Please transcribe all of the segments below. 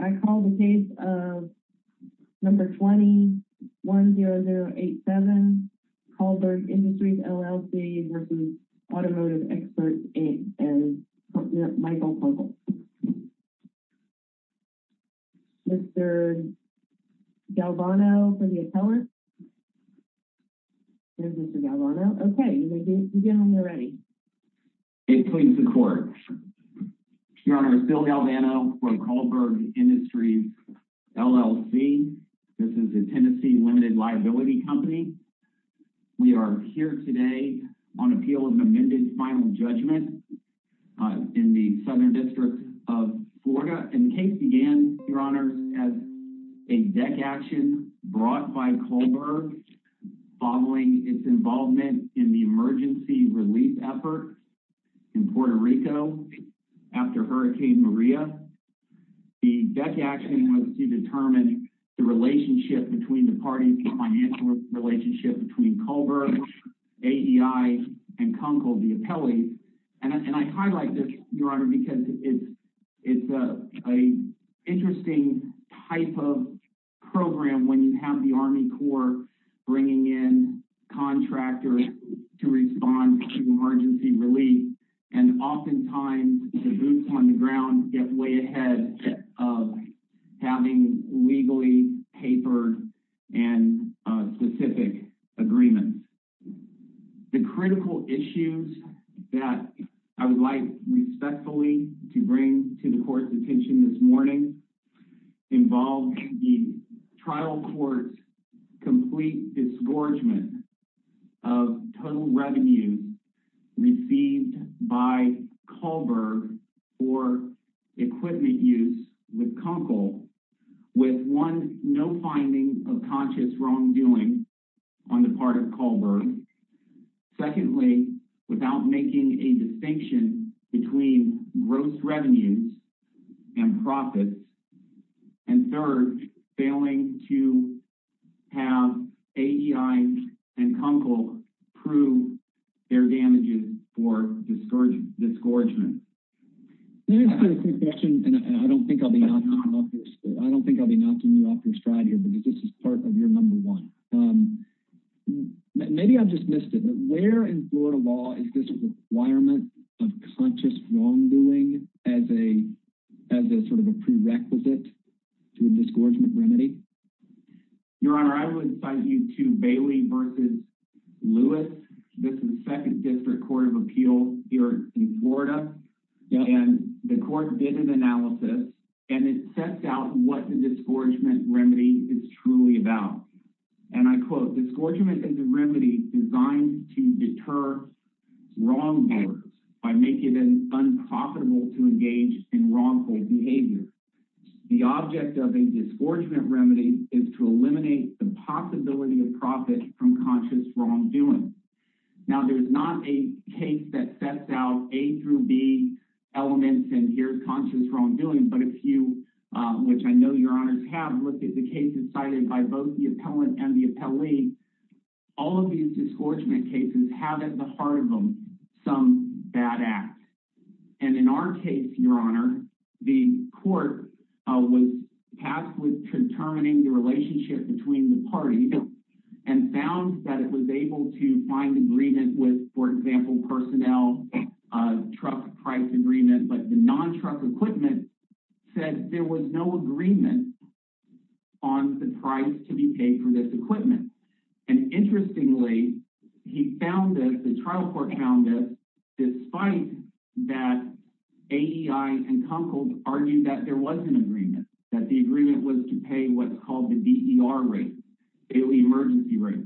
I call the case of number 20-10087, Kallberg Industries, LLC, versus Automotive Experts, Inc, and Michael Kunkel. Mr. Galvano for the appellant. There's Mr. Galvano. Okay, you can begin when you're ready. It pleads the court. Your Honor, Phil Galvano for Kallberg Industries, LLC. This is a Tennessee limited liability company. We are here today on appeal of an amended final judgment in the Southern District of Florida. The case began, Your Honor, as a deck action brought by Kallberg following its involvement in the emergency relief effort in Puerto Rico after Hurricane Maria. The deck action was to determine the relationship between the parties, the financial relationship between Kallberg, AEI, and Kunkel, the appellees. And I highlight this, Your Honor, because it's an interesting type of program when you have the Army Corps bringing in contractors to respond to emergency relief. And oftentimes, the boots on the ground get way ahead of having legally papered and specific agreements. The critical issues that I would like respectfully to bring to the court's attention this morning involve the trial court's complete disgorgement of total revenue received by Kallberg for equipment use with Kunkel, with one, no finding of conscious wrongdoing on the part of Kallberg, secondly, without making a distinction between gross revenues and profits, and third, failing to have AEI and Kunkel prove their damages for disgorgement. Let me ask you a quick question, and I don't think I'll be knocking you off your stride here because this is part of your number one. Maybe I've just missed it, but where in Florida law is this requirement of conscious wrongdoing as a sort of a prerequisite to a disgorgement remedy? Your Honor, I would cite you to Bailey v. Lewis. This is the 2nd District Court of Appeals here in Florida. And the court did an analysis, and it sets out what the disgorgement remedy is truly about. And I quote, So a disgorgement is a remedy designed to deter wrongdoers by making them unprofitable to engage in wrongful behavior. The object of a disgorgement remedy is to eliminate the possibility of profit from conscious wrongdoing. Now, there's not a case that sets out A through B elements and here's conscious wrongdoing, but a few, which I know Your Honors have looked at the cases cited by both the appellant and the appellee. All of these disgorgement cases have at the heart of them some bad act. And in our case, Your Honor, the court was tasked with determining the relationship between the parties and found that it was able to find agreement with, for example, personnel, truck price agreement, but the non-truck equipment said there was no agreement on the price to be paid for this equipment. And interestingly, he found this, the trial court found this, despite that AEI and Kunkel argued that there was an agreement, that the agreement was to pay what's called the DER rate.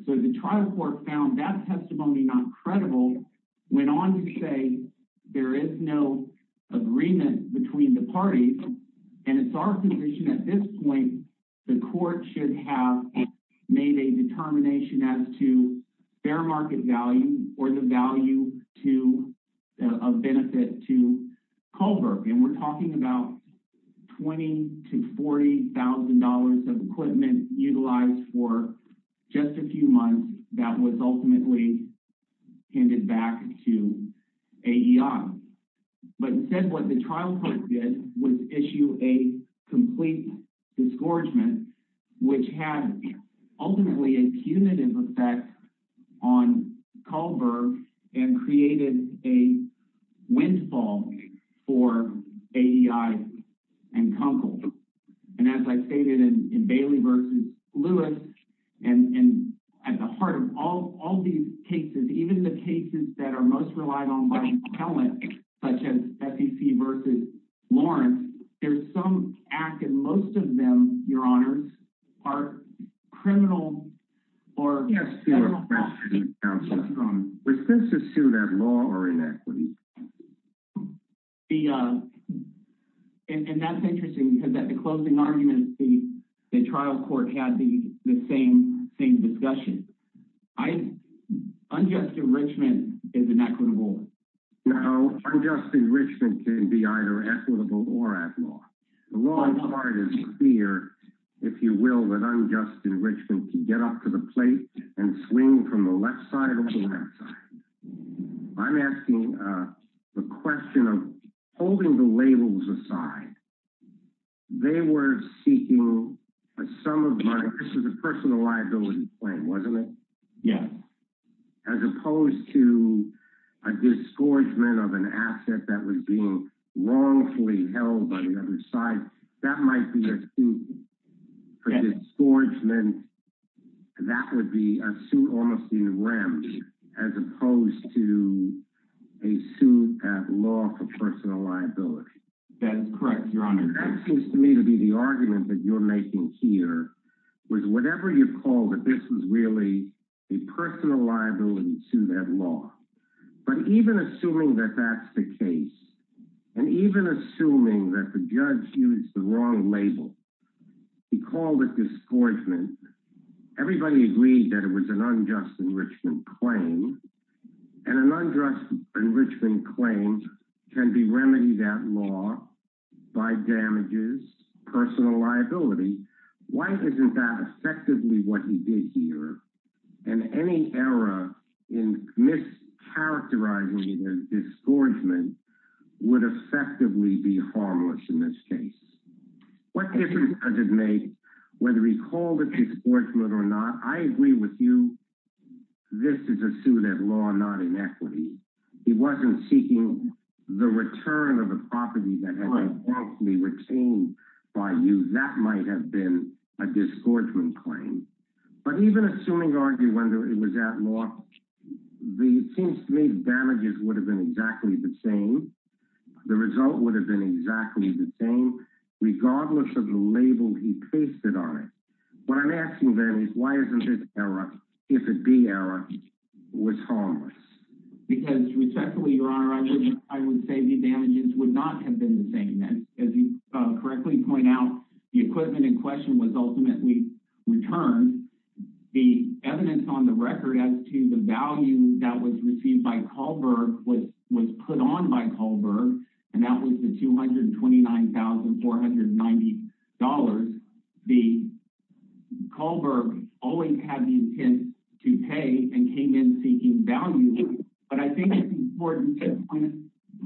So the trial court found that testimony not credible, went on to say there is no agreement between the parties. And it's our position at this point, the court should have made a determination as to fair market value or the value of benefit to Kohlberg. And we're talking about $20,000 to $40,000 of equipment utilized for just a few months that was ultimately handed back to AEI. But instead what the trial court did was issue a complete disgorgement, which had ultimately a punitive effect on Kohlberg and created a windfall for AEI and Kunkel. And as I stated in Bailey v. Lewis, and at the heart of all these cases, even the cases that are most relied on by the appellant, such as FEC v. Lawrence, there's some act, and most of them, your honors, are criminal or... Yes. Responses to that law are inequity. And that's interesting because at the closing argument, the trial court had the same discussion. I, unjust enrichment is inequitable. No, unjust enrichment can be either equitable or at law. The wrong part is the fear, if you will, that unjust enrichment can get off to the plate and swing from the left side or the right side. I'm asking the question of holding the labels aside. They were seeking a sum of money. This was a personal liability claim, wasn't it? Yeah. As opposed to a disgorgement of an asset that was being wrongfully held by the other side. That might be a suit for disgorgement. That would be a suit almost in rem as opposed to a suit at law for personal liability. That is correct, your honor. And that seems to me to be the argument that you're making here, was whatever you call it, this was really a personal liability suit at law. But even assuming that that's the case, and even assuming that the judge used the wrong label, he called it disgorgement, everybody agreed that it was an unjust enrichment claim. And an unjust enrichment claim can be remedied at law by damages, personal liability. Why isn't that effectively what he did here? And any error in mischaracterizing it as disgorgement would effectively be harmless in this case. What difference does it make whether he called it disgorgement or not? I agree with you. This is a suit at law, not inequity. He wasn't seeking the return of a property that had been wrongfully retained by you. That might have been a disgorgement claim. But even assuming argue when it was at law, it seems to me the damages would have been exactly the same. The result would have been exactly the same. Regardless of the label he pasted on it. What I'm asking then is why isn't this error, if it be error, was harmless? Because respectfully, Your Honor, I would say the damages would not have been the same. As you correctly point out, the equipment in question was ultimately returned. The evidence on the record as to the value that was received by Kahlberg was put on by Kahlberg. And that was the $229,490. Kahlberg always had the intent to pay and came in seeking value. But I think it's important to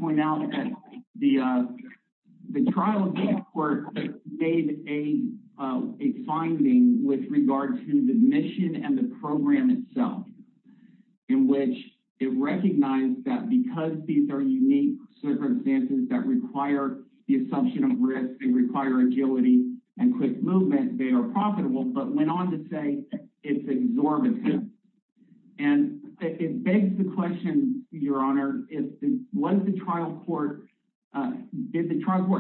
point out that the trial court made a finding with regard to the mission and the program itself. In which it recognized that because these are unique circumstances that require the assumption of risk and require agility and quick movement, they are profitable. But went on to say it's exorbitant. And it begs the question, Your Honor, did the trial court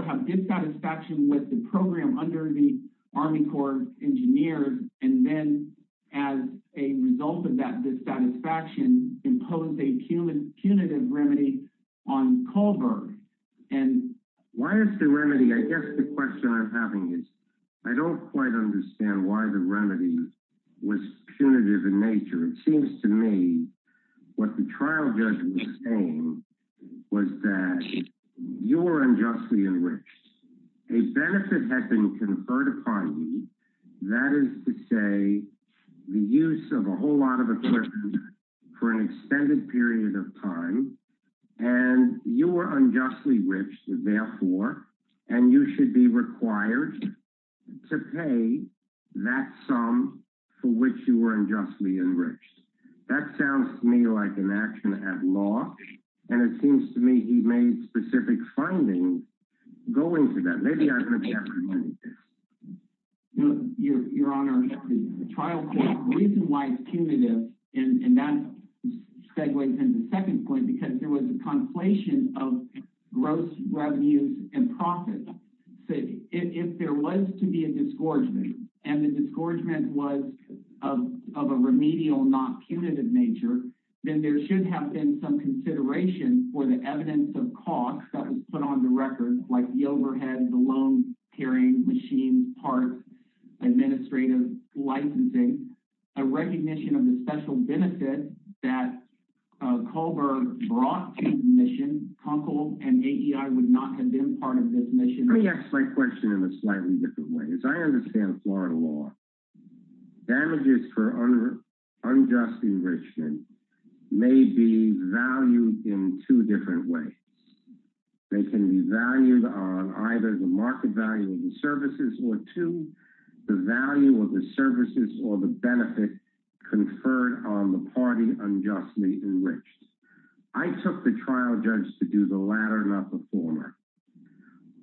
have dissatisfaction with the program under the Army Corps of Engineers? And then as a result of that dissatisfaction, impose a punitive remedy on Kahlberg? And why is the remedy, I guess the question I'm having is I don't quite understand why the remedy was punitive in nature. It seems to me what the trial judge was saying was that you were unjustly enriched. A benefit had been conferred upon you, that is to say, the use of a whole lot of equipment for an extended period of time. And you were unjustly enriched, therefore, and you should be required to pay that sum for which you were unjustly enriched. That sounds to me like an action at law, and it seems to me he made specific findings going to that. Maybe I'm going to be able to remedy this. Your Honor, the trial court's reason why it's punitive, and that segues into the second point, because there was a conflation of gross revenues and profits. If there was to be a disgorgement, and the disgorgement was of a remedial, not punitive nature, then there should have been some consideration for the evidence of cost that was put on the record, like the overhead, the loans, hearing, machines, parts, administrative licensing, a recognition of the special benefit that Kahlberg brought to his mission. Conkle and AEI would not have been part of this mission. Let me ask my question in a slightly different way. As I understand Florida law, damages for unjust enrichment may be valued in two different ways. They can be valued on either the market value of the services or two, the value of the services or the benefit conferred on the party unjustly enriched. I took the trial judge to do the latter, not the former.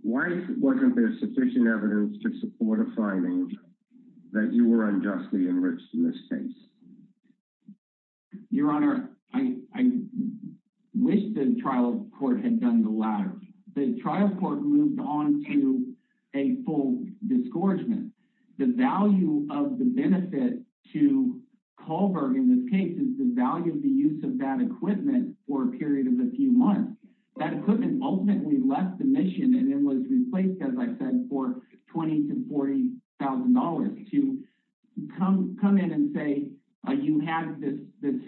Why wasn't there sufficient evidence to support a finding that you were unjustly enriched in this case? Your Honor, I wish the trial court had done the latter. The trial court moved on to a full disgorgement. The value of the benefit to Kahlberg in this case is the value of the use of that equipment for a period of a few months. That equipment ultimately left the mission and it was replaced, as I said, for $20,000 to $40,000. You come in and say you have this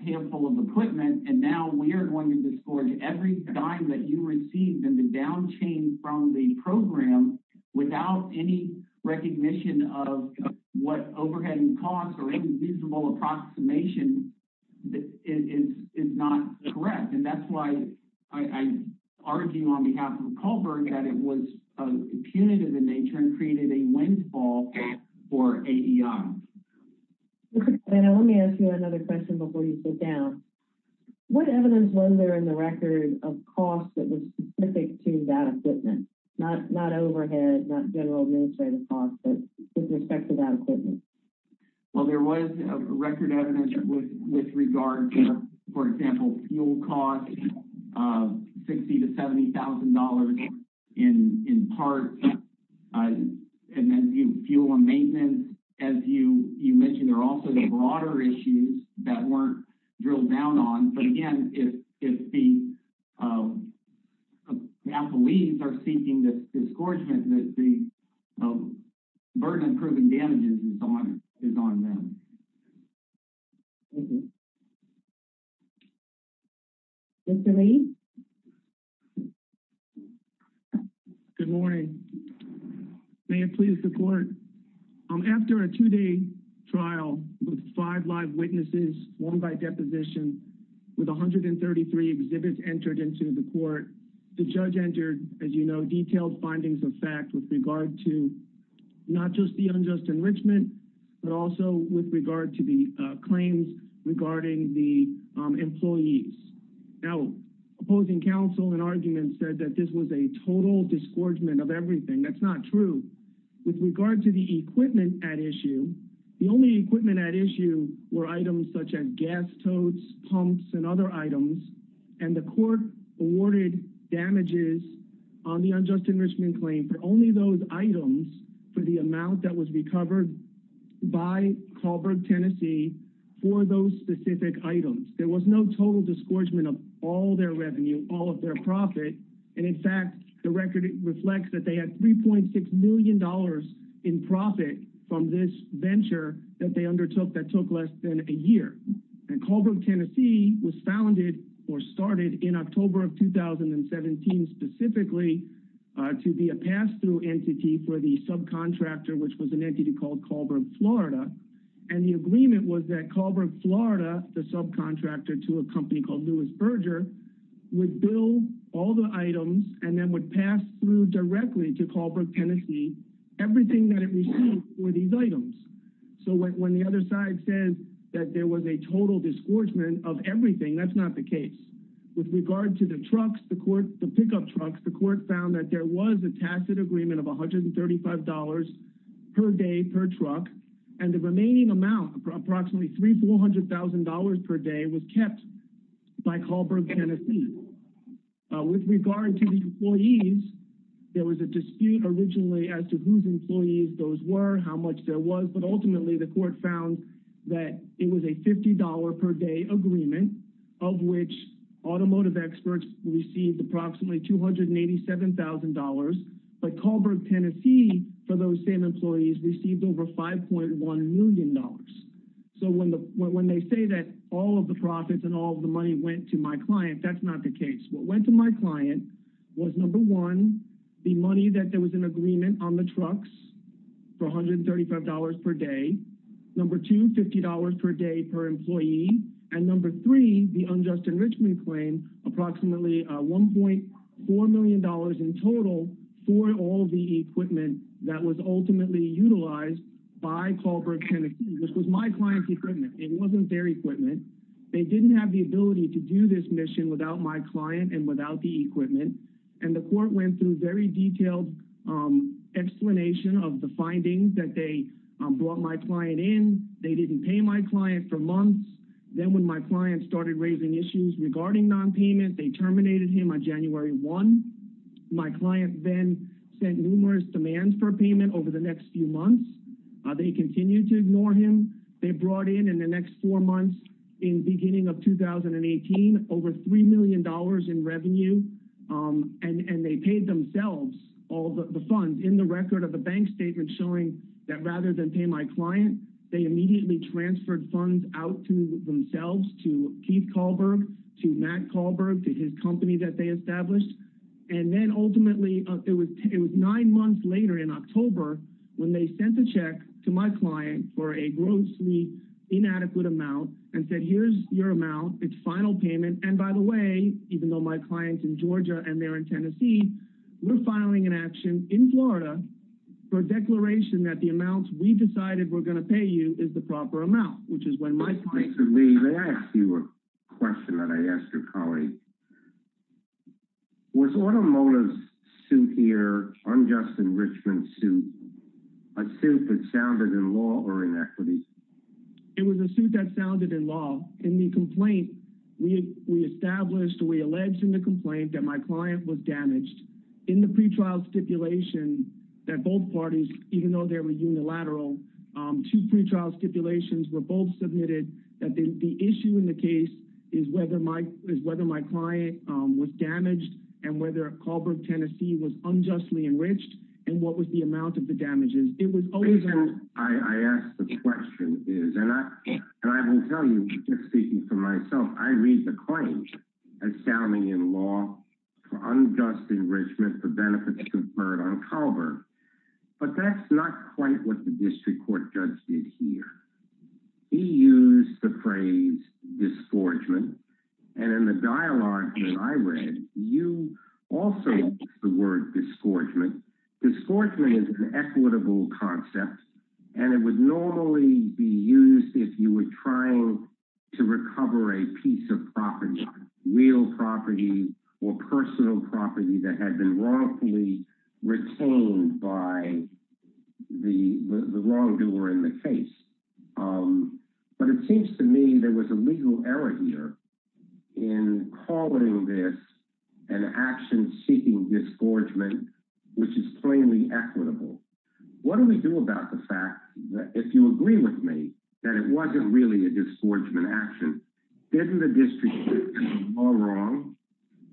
handful of equipment, and now we are going to disgorge every dime that you received in the down change from the program without any recognition of what overheading costs or any reasonable approximation is not correct. That's why I argue on behalf of Kahlberg that it was punitive in nature and created a windfall for AEI. Let me ask you another question before you sit down. What evidence was there in the record of costs that were specific to that equipment? Not overhead, not general administrative costs, but with respect to that equipment. Well, there was record evidence with regard to, for example, fuel costs, $60,000 to $70,000 in parts, and then fuel and maintenance. As you mentioned, there are also broader issues that weren't drilled down on. Again, if the employees are seeking the disgorgement, the burden of proving damages is on them. Thank you. Mr. Lee? Good morning. May it please the court. After a two-day trial with five live witnesses, one by deposition, with 133 exhibits entered into the court, the judge entered, as you know, detailed findings of fact with regard to not just the unjust enrichment, but also with regard to the claims regarding the employees. Now, opposing counsel in argument said that this was a total disgorgement of everything. That's not true. This is the equipment at issue. The only equipment at issue were items such as gas totes, pumps, and other items, and the court awarded damages on the unjust enrichment claim for only those items for the amount that was recovered by Kahlberg, Tennessee, for those specific items. There was no total disgorgement of all their revenue, all of their profit, and in fact, the record reflects that they had $3.6 million in profit from this venture that they undertook that took less than a year. And Kahlberg, Tennessee was founded or started in October of 2017 specifically to be a pass-through entity for the subcontractor, which was an entity called Kahlberg, Florida, and the agreement was that Kahlberg, Florida, the subcontractor to a company called Lewis Berger, would bill all the items and then would pass through directly to Kahlberg, Tennessee, everything that it received for these items. So when the other side says that there was a total disgorgement of everything, that's not the case. With regard to the trucks, the pickup trucks, the court found that there was a tacit agreement of $135 per day per truck, and the remaining amount, approximately $300,000-$400,000 per day, was kept by Kahlberg, Tennessee. With regard to the employees, there was a dispute originally as to whose employees those were, how much there was, but ultimately the court found that it was a $50 per day agreement of which automotive experts received approximately $287,000, but Kahlberg, Tennessee, for those same employees, received over $5.1 million. So when they say that all of the profits and all of the money went to my client, that's not the case. What went to my client was, number one, the money that there was an agreement on the trucks for $135 per day, number two, $50 per day per employee, and number three, the unjust enrichment claim, approximately $1.4 million in total for all the equipment that was ultimately utilized by Kahlberg, Tennessee. This was my client's equipment. It wasn't their equipment. They didn't have the ability to do this mission without my client and without the equipment, and the court went through a very detailed explanation of the findings that they brought my client in. They didn't pay my client for months. Then when my client started raising issues regarding nonpayment, they terminated him on January 1. My client then sent numerous demands for payment over the next few months. They continued to ignore him. They brought in, in the next four months, in the beginning of 2018, over $3 million in revenue, and they paid themselves all the funds in the record of a bank statement showing that rather than pay my client, they immediately transferred funds out to themselves, to Keith Kahlberg, to Matt Kahlberg, to his company that they established. Then ultimately, it was nine months later in October when they sent a check to my client for a grossly inadequate amount and said, here's your amount. It's final payment. By the way, even though my client's in Georgia and they're in Tennessee, we're filing an action in Florida for a declaration that the amount we decided we're going to pay you is the proper amount, which is when my client— Mr. Lee, may I ask you a question that I asked your colleague? Was Automotive's suit here, unjust enrichment suit, a suit that sounded in law or inequity? It was a suit that sounded in law. In the complaint, we established, we alleged in the complaint, that my client was damaged. In the pretrial stipulation, that both parties, even though they were unilateral, two pretrial stipulations were both submitted, that the issue in the case is whether my client was damaged and whether Kahlberg, Tennessee, was unjustly enriched and what was the amount of the damages. The reason I ask the question is, and I will tell you, just speaking for myself, I read the claims as sounding in law for unjust enrichment for benefits conferred on Kahlberg. But that's not quite what the district court judge did here. He used the phrase disgorgement, and in the dialogue that I read, you also used the word disgorgement. Disgorgement is an equitable concept, and it would normally be used if you were trying to recover a piece of property, real property or personal property that had been wrongfully retained by the wrongdoer in the case. But it seems to me there was a legal error here in calling this an action seeking disgorgement, which is plainly equitable. What do we do about the fact that, if you agree with me, that it wasn't really a disgorgement action? Isn't the district court all wrong?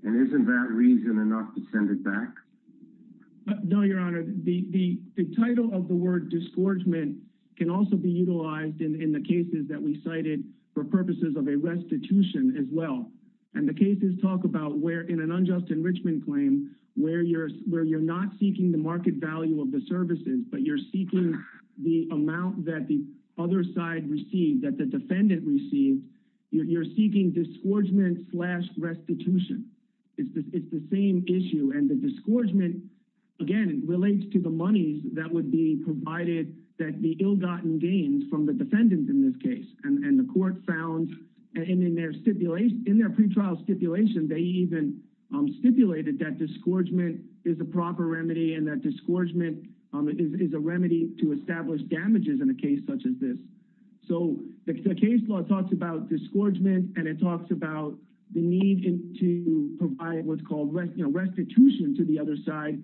And isn't that reason enough to send it back? No, Your Honor. The title of the word disgorgement can also be utilized in the cases that we cited for purposes of a restitution as well. And the cases talk about where, in an unjust enrichment claim, where you're not seeking the market value of the services, but you're seeking the amount that the other side received, that the defendant received. You're seeking disgorgement slash restitution. It's the same issue. And the disgorgement, again, relates to the monies that would be provided that the ill-gotten gains from the defendant in this case. And the court found in their pre-trial stipulation, they even stipulated that disgorgement is a proper remedy and that disgorgement is a remedy to establish damages in a case such as this. So the case law talks about disgorgement, and it talks about the need to provide what's called restitution to the other side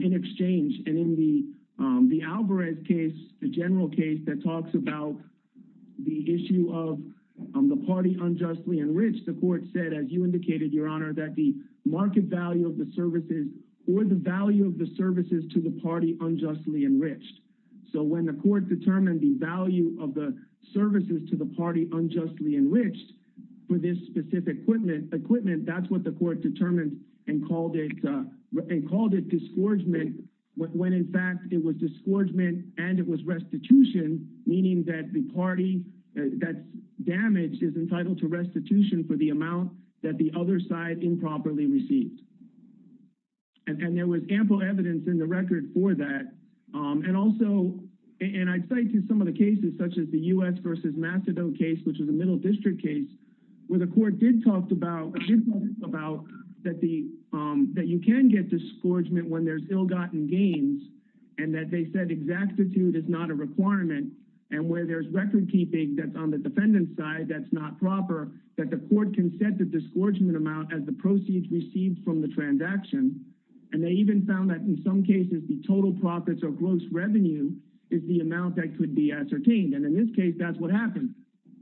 in exchange. And in the Alvarez case, the general case that talks about the issue of the party unjustly enriched, the court said, as you indicated, Your Honor, that the market value of the services or the value of the services to the party unjustly enriched. So when the court determined the value of the services to the party unjustly enriched for this specific equipment, that's what the court determined and called it disgorgement, when in fact it was disgorgement and it was restitution, meaning that the party that's damaged is entitled to restitution for the amount that the other side improperly received. And there was ample evidence in the record for that. And also, and I'd say to some of the cases, such as the U.S. versus Macedo case, which was a middle district case, where the court did talk about that you can get disgorgement when there's ill-gotten gains and that they said exactitude is not a requirement and where there's record keeping that's on the defendant's side that's not proper, that the court can set the disgorgement amount as the proceeds received from the transaction. And they even found that in some cases the total profits or gross revenue is the amount that could be ascertained. And in this case, that's what happened.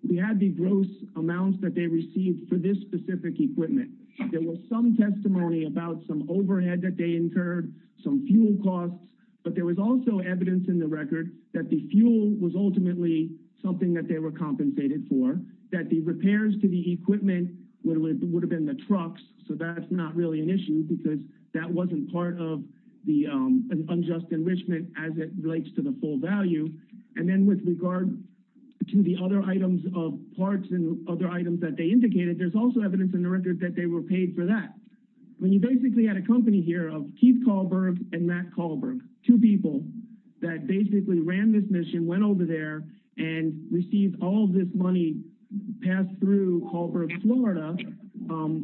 We had the gross amounts that they received for this specific equipment. There was some testimony about some overhead that they incurred, some fuel costs, but there was also evidence in the record that the fuel was ultimately something that they were compensated for, that the repairs to the equipment would have been the trucks. So that's not really an issue because that wasn't part of the unjust enrichment as it relates to the full value. And then with regard to the other items of parts and other items that they indicated, there's also evidence in the record that they were paid for that. When you basically had a company here of Keith Kahlberg and Matt Kahlberg, two people that basically ran this mission, went over there and received all this money passed through Kahlberg, Florida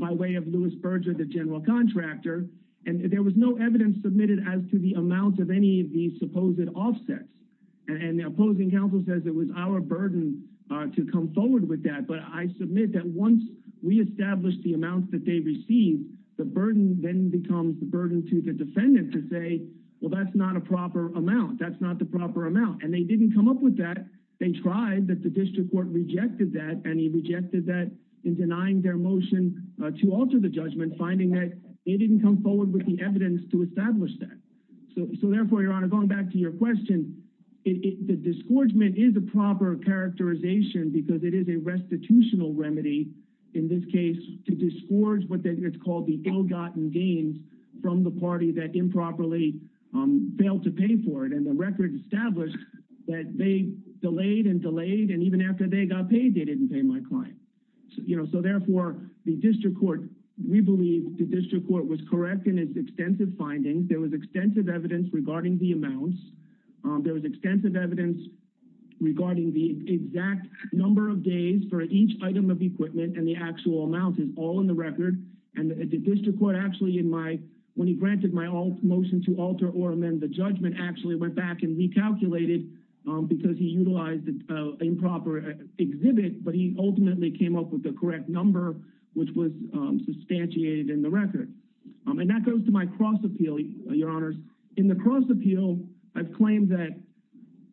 by way of Lewis Berger, the general contractor. And there was no evidence submitted as to the amount of any of these supposed offsets. And the opposing counsel says it was our burden to come forward with that. But I submit that once we established the amounts that they received, the burden then becomes the burden to the defendant to say, well, that's not a proper amount. That's not the proper amount. And they didn't come up with that. They tried, but the district court rejected that and he rejected that in denying their motion to alter the judgment, finding that they didn't come forward with the evidence to establish that. So therefore, Your Honor, going back to your question, the disgorgement is a proper characterization because it is a restitutional remedy in this case to disgorge what is called the ill-gotten gains from the party that improperly failed to pay for it. And the record established that they delayed and delayed. And even after they got paid, they didn't pay my client. So therefore, the district court, we believe the district court was correct in its extensive findings. There was extensive evidence regarding the amounts. There was extensive evidence regarding the exact number of days for each item of equipment and the actual amount is all in the record. And the district court actually, when he granted my motion to alter or amend the judgment, actually went back and recalculated because he utilized an improper exhibit, but ultimately came up with the correct number, which was substantiated in the record. And that goes to my cross appeal, Your Honors. In the cross appeal, I've claimed that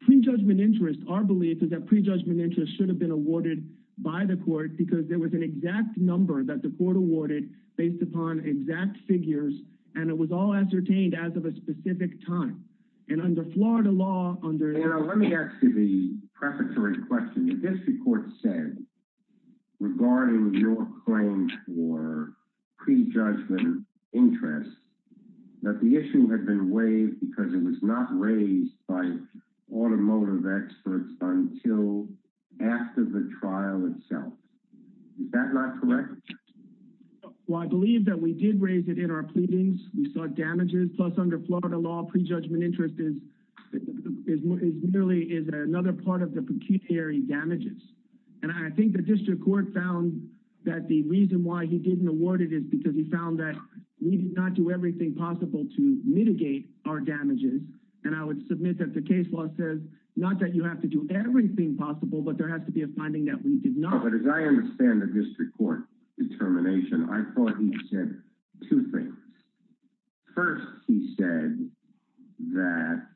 prejudgment interest, our belief is that prejudgment interest should have been awarded by the court because there was an exact number that the court awarded based upon exact figures, and it was all ascertained as of a specific time. And under Florida law, under- Let me ask you the prefatory question. The district court said, regarding your claim for prejudgment interest, that the issue had been waived because it was not raised by automotive experts until after the trial itself. Is that not correct? Well, I believe that we did raise it in our pleadings. We saw damages, plus under Florida law, prejudgment interest is merely, is another part of the pecuniary damages. And I think the district court found that the reason why he didn't award it is because he found that we did not do everything possible to mitigate our damages. And I would submit that the case law says not that you have to do everything possible, but there has to be a finding that we did not. But as I understand the district court determination, I thought he said two things. First, he said that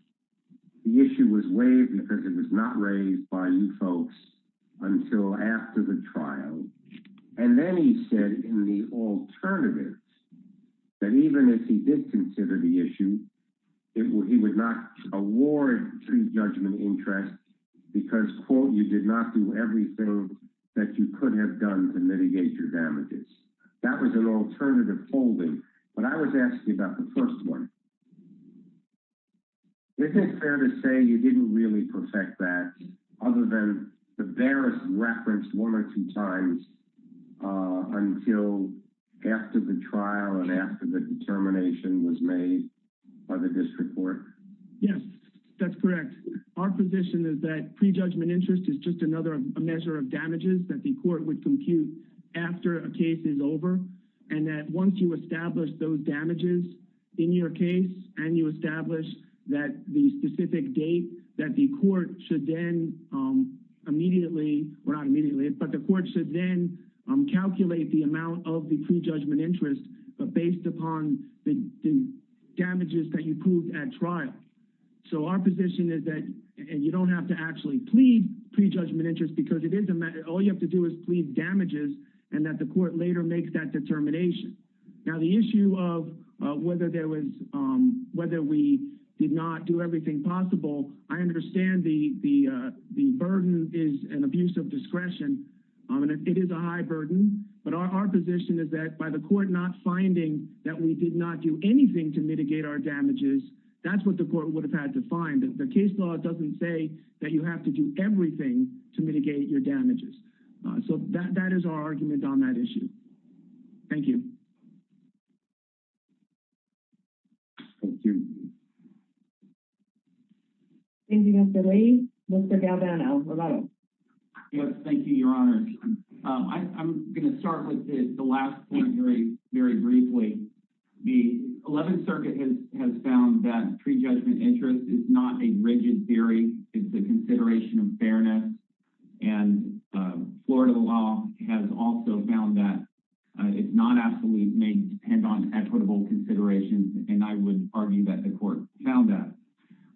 the issue was waived because it was not raised by you folks until after the trial. And then he said in the alternative that even if he did consider the issue, he would not award prejudgment interest because, quote, you did not do everything that you could have done to mitigate your damages. That was an alternative holding. But I was asking about the first one. Is it fair to say you didn't really perfect that other than the various reference one or two times until after the trial and after the determination was made by the district court? Yes, that's correct. Our position is that prejudgment interest is just another measure of damages that the court would compute after a case is over. And that once you establish those damages in your case, and you establish that the specific date that the court should then immediately, or not immediately, but the court should then calculate the amount of the prejudgment interest based upon the damages that you proved at trial. So our position is that you don't have to actually plead prejudgment interest because all you have to do is plead damages and that the court later makes that determination. Now the issue of whether we did not do everything possible, I understand the burden is an abuse of discretion. It is a high burden. But our position is that by the court not finding that we did not do anything to mitigate our damages, that's what the court would have had to find. The case law doesn't say that you have to do everything to mitigate your damages. So that is our argument on that issue. Thank you. Thank you, Mr. Lee. Mr. Galvano, hello. Yes, thank you, Your Honor. I'm going to start with the last point very briefly. The 11th Circuit has found that prejudgment interest is not a rigid theory. It's a consideration of fairness. And Florida law has also found that it's non-absolute may depend on equitable considerations. And I would argue that the court found that.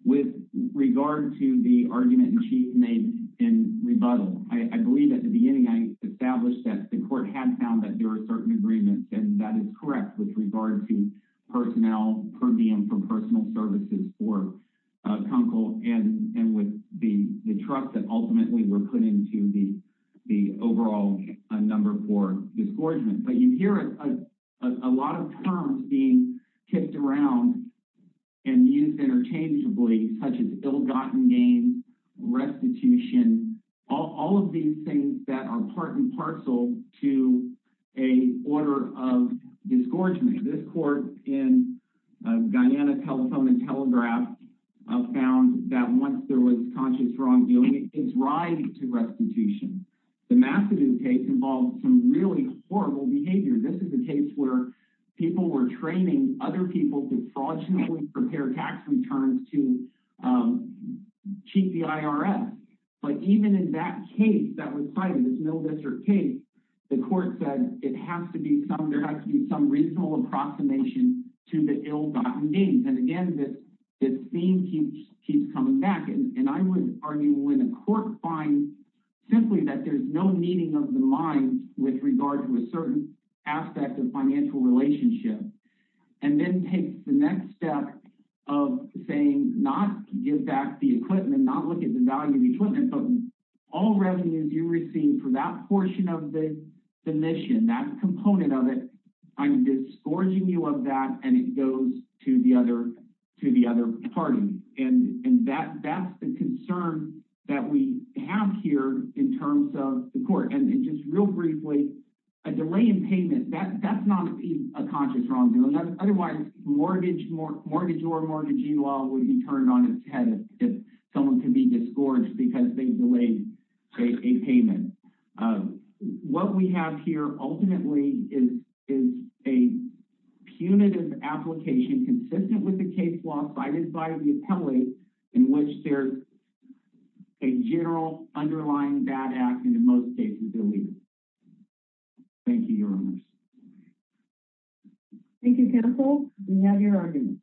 With regard to the argument Chief made in rebuttal, I believe at the beginning I established that the court had found that there were certain agreements, and that is correct with regard to personnel per diem for personal services for Kunkel and with the trust that ultimately were put into the overall number for disgorgement. But you hear a lot of terms being kicked around and used interchangeably, such as ill-gotten gain, restitution, all of these things that are part and parcel to a order of disgorgement. This court in Guyana Telephone and Telegraph found that once there was conscious wrongdoing, it's right to restitution. The Mastodon case involved some really horrible behavior. This is a case where people were training other people to fraudulently prepare tax returns to cheat the IRS. But even in that case that was cited, this middle district case, the court said there has to be some reasonable approximation to the ill-gotten gains. And again, this theme keeps coming back. And I would argue when a court finds simply that there's no meaning of the mind with regard to a certain aspect of financial relationship and then takes the next step of saying not give back the equipment, not look at the value of the equipment, but all revenues you receive for that portion of the mission, that component of it, I'm disgorging you of that and it goes to the other party. And that's the concern that we have here in terms of the court. And just real briefly, a delay in payment, that's not a conscious wrongdoing. Otherwise, mortgage or mortgagee law would be turned on its head if someone can be disgorged because they've delayed a payment. What we have here ultimately is a punitive application consistent with the case law provided by the appellate in which there's a general underlying bad act in the most cases, I believe. Thank you, Your Honors. Thank you, Counsel. We have your argument.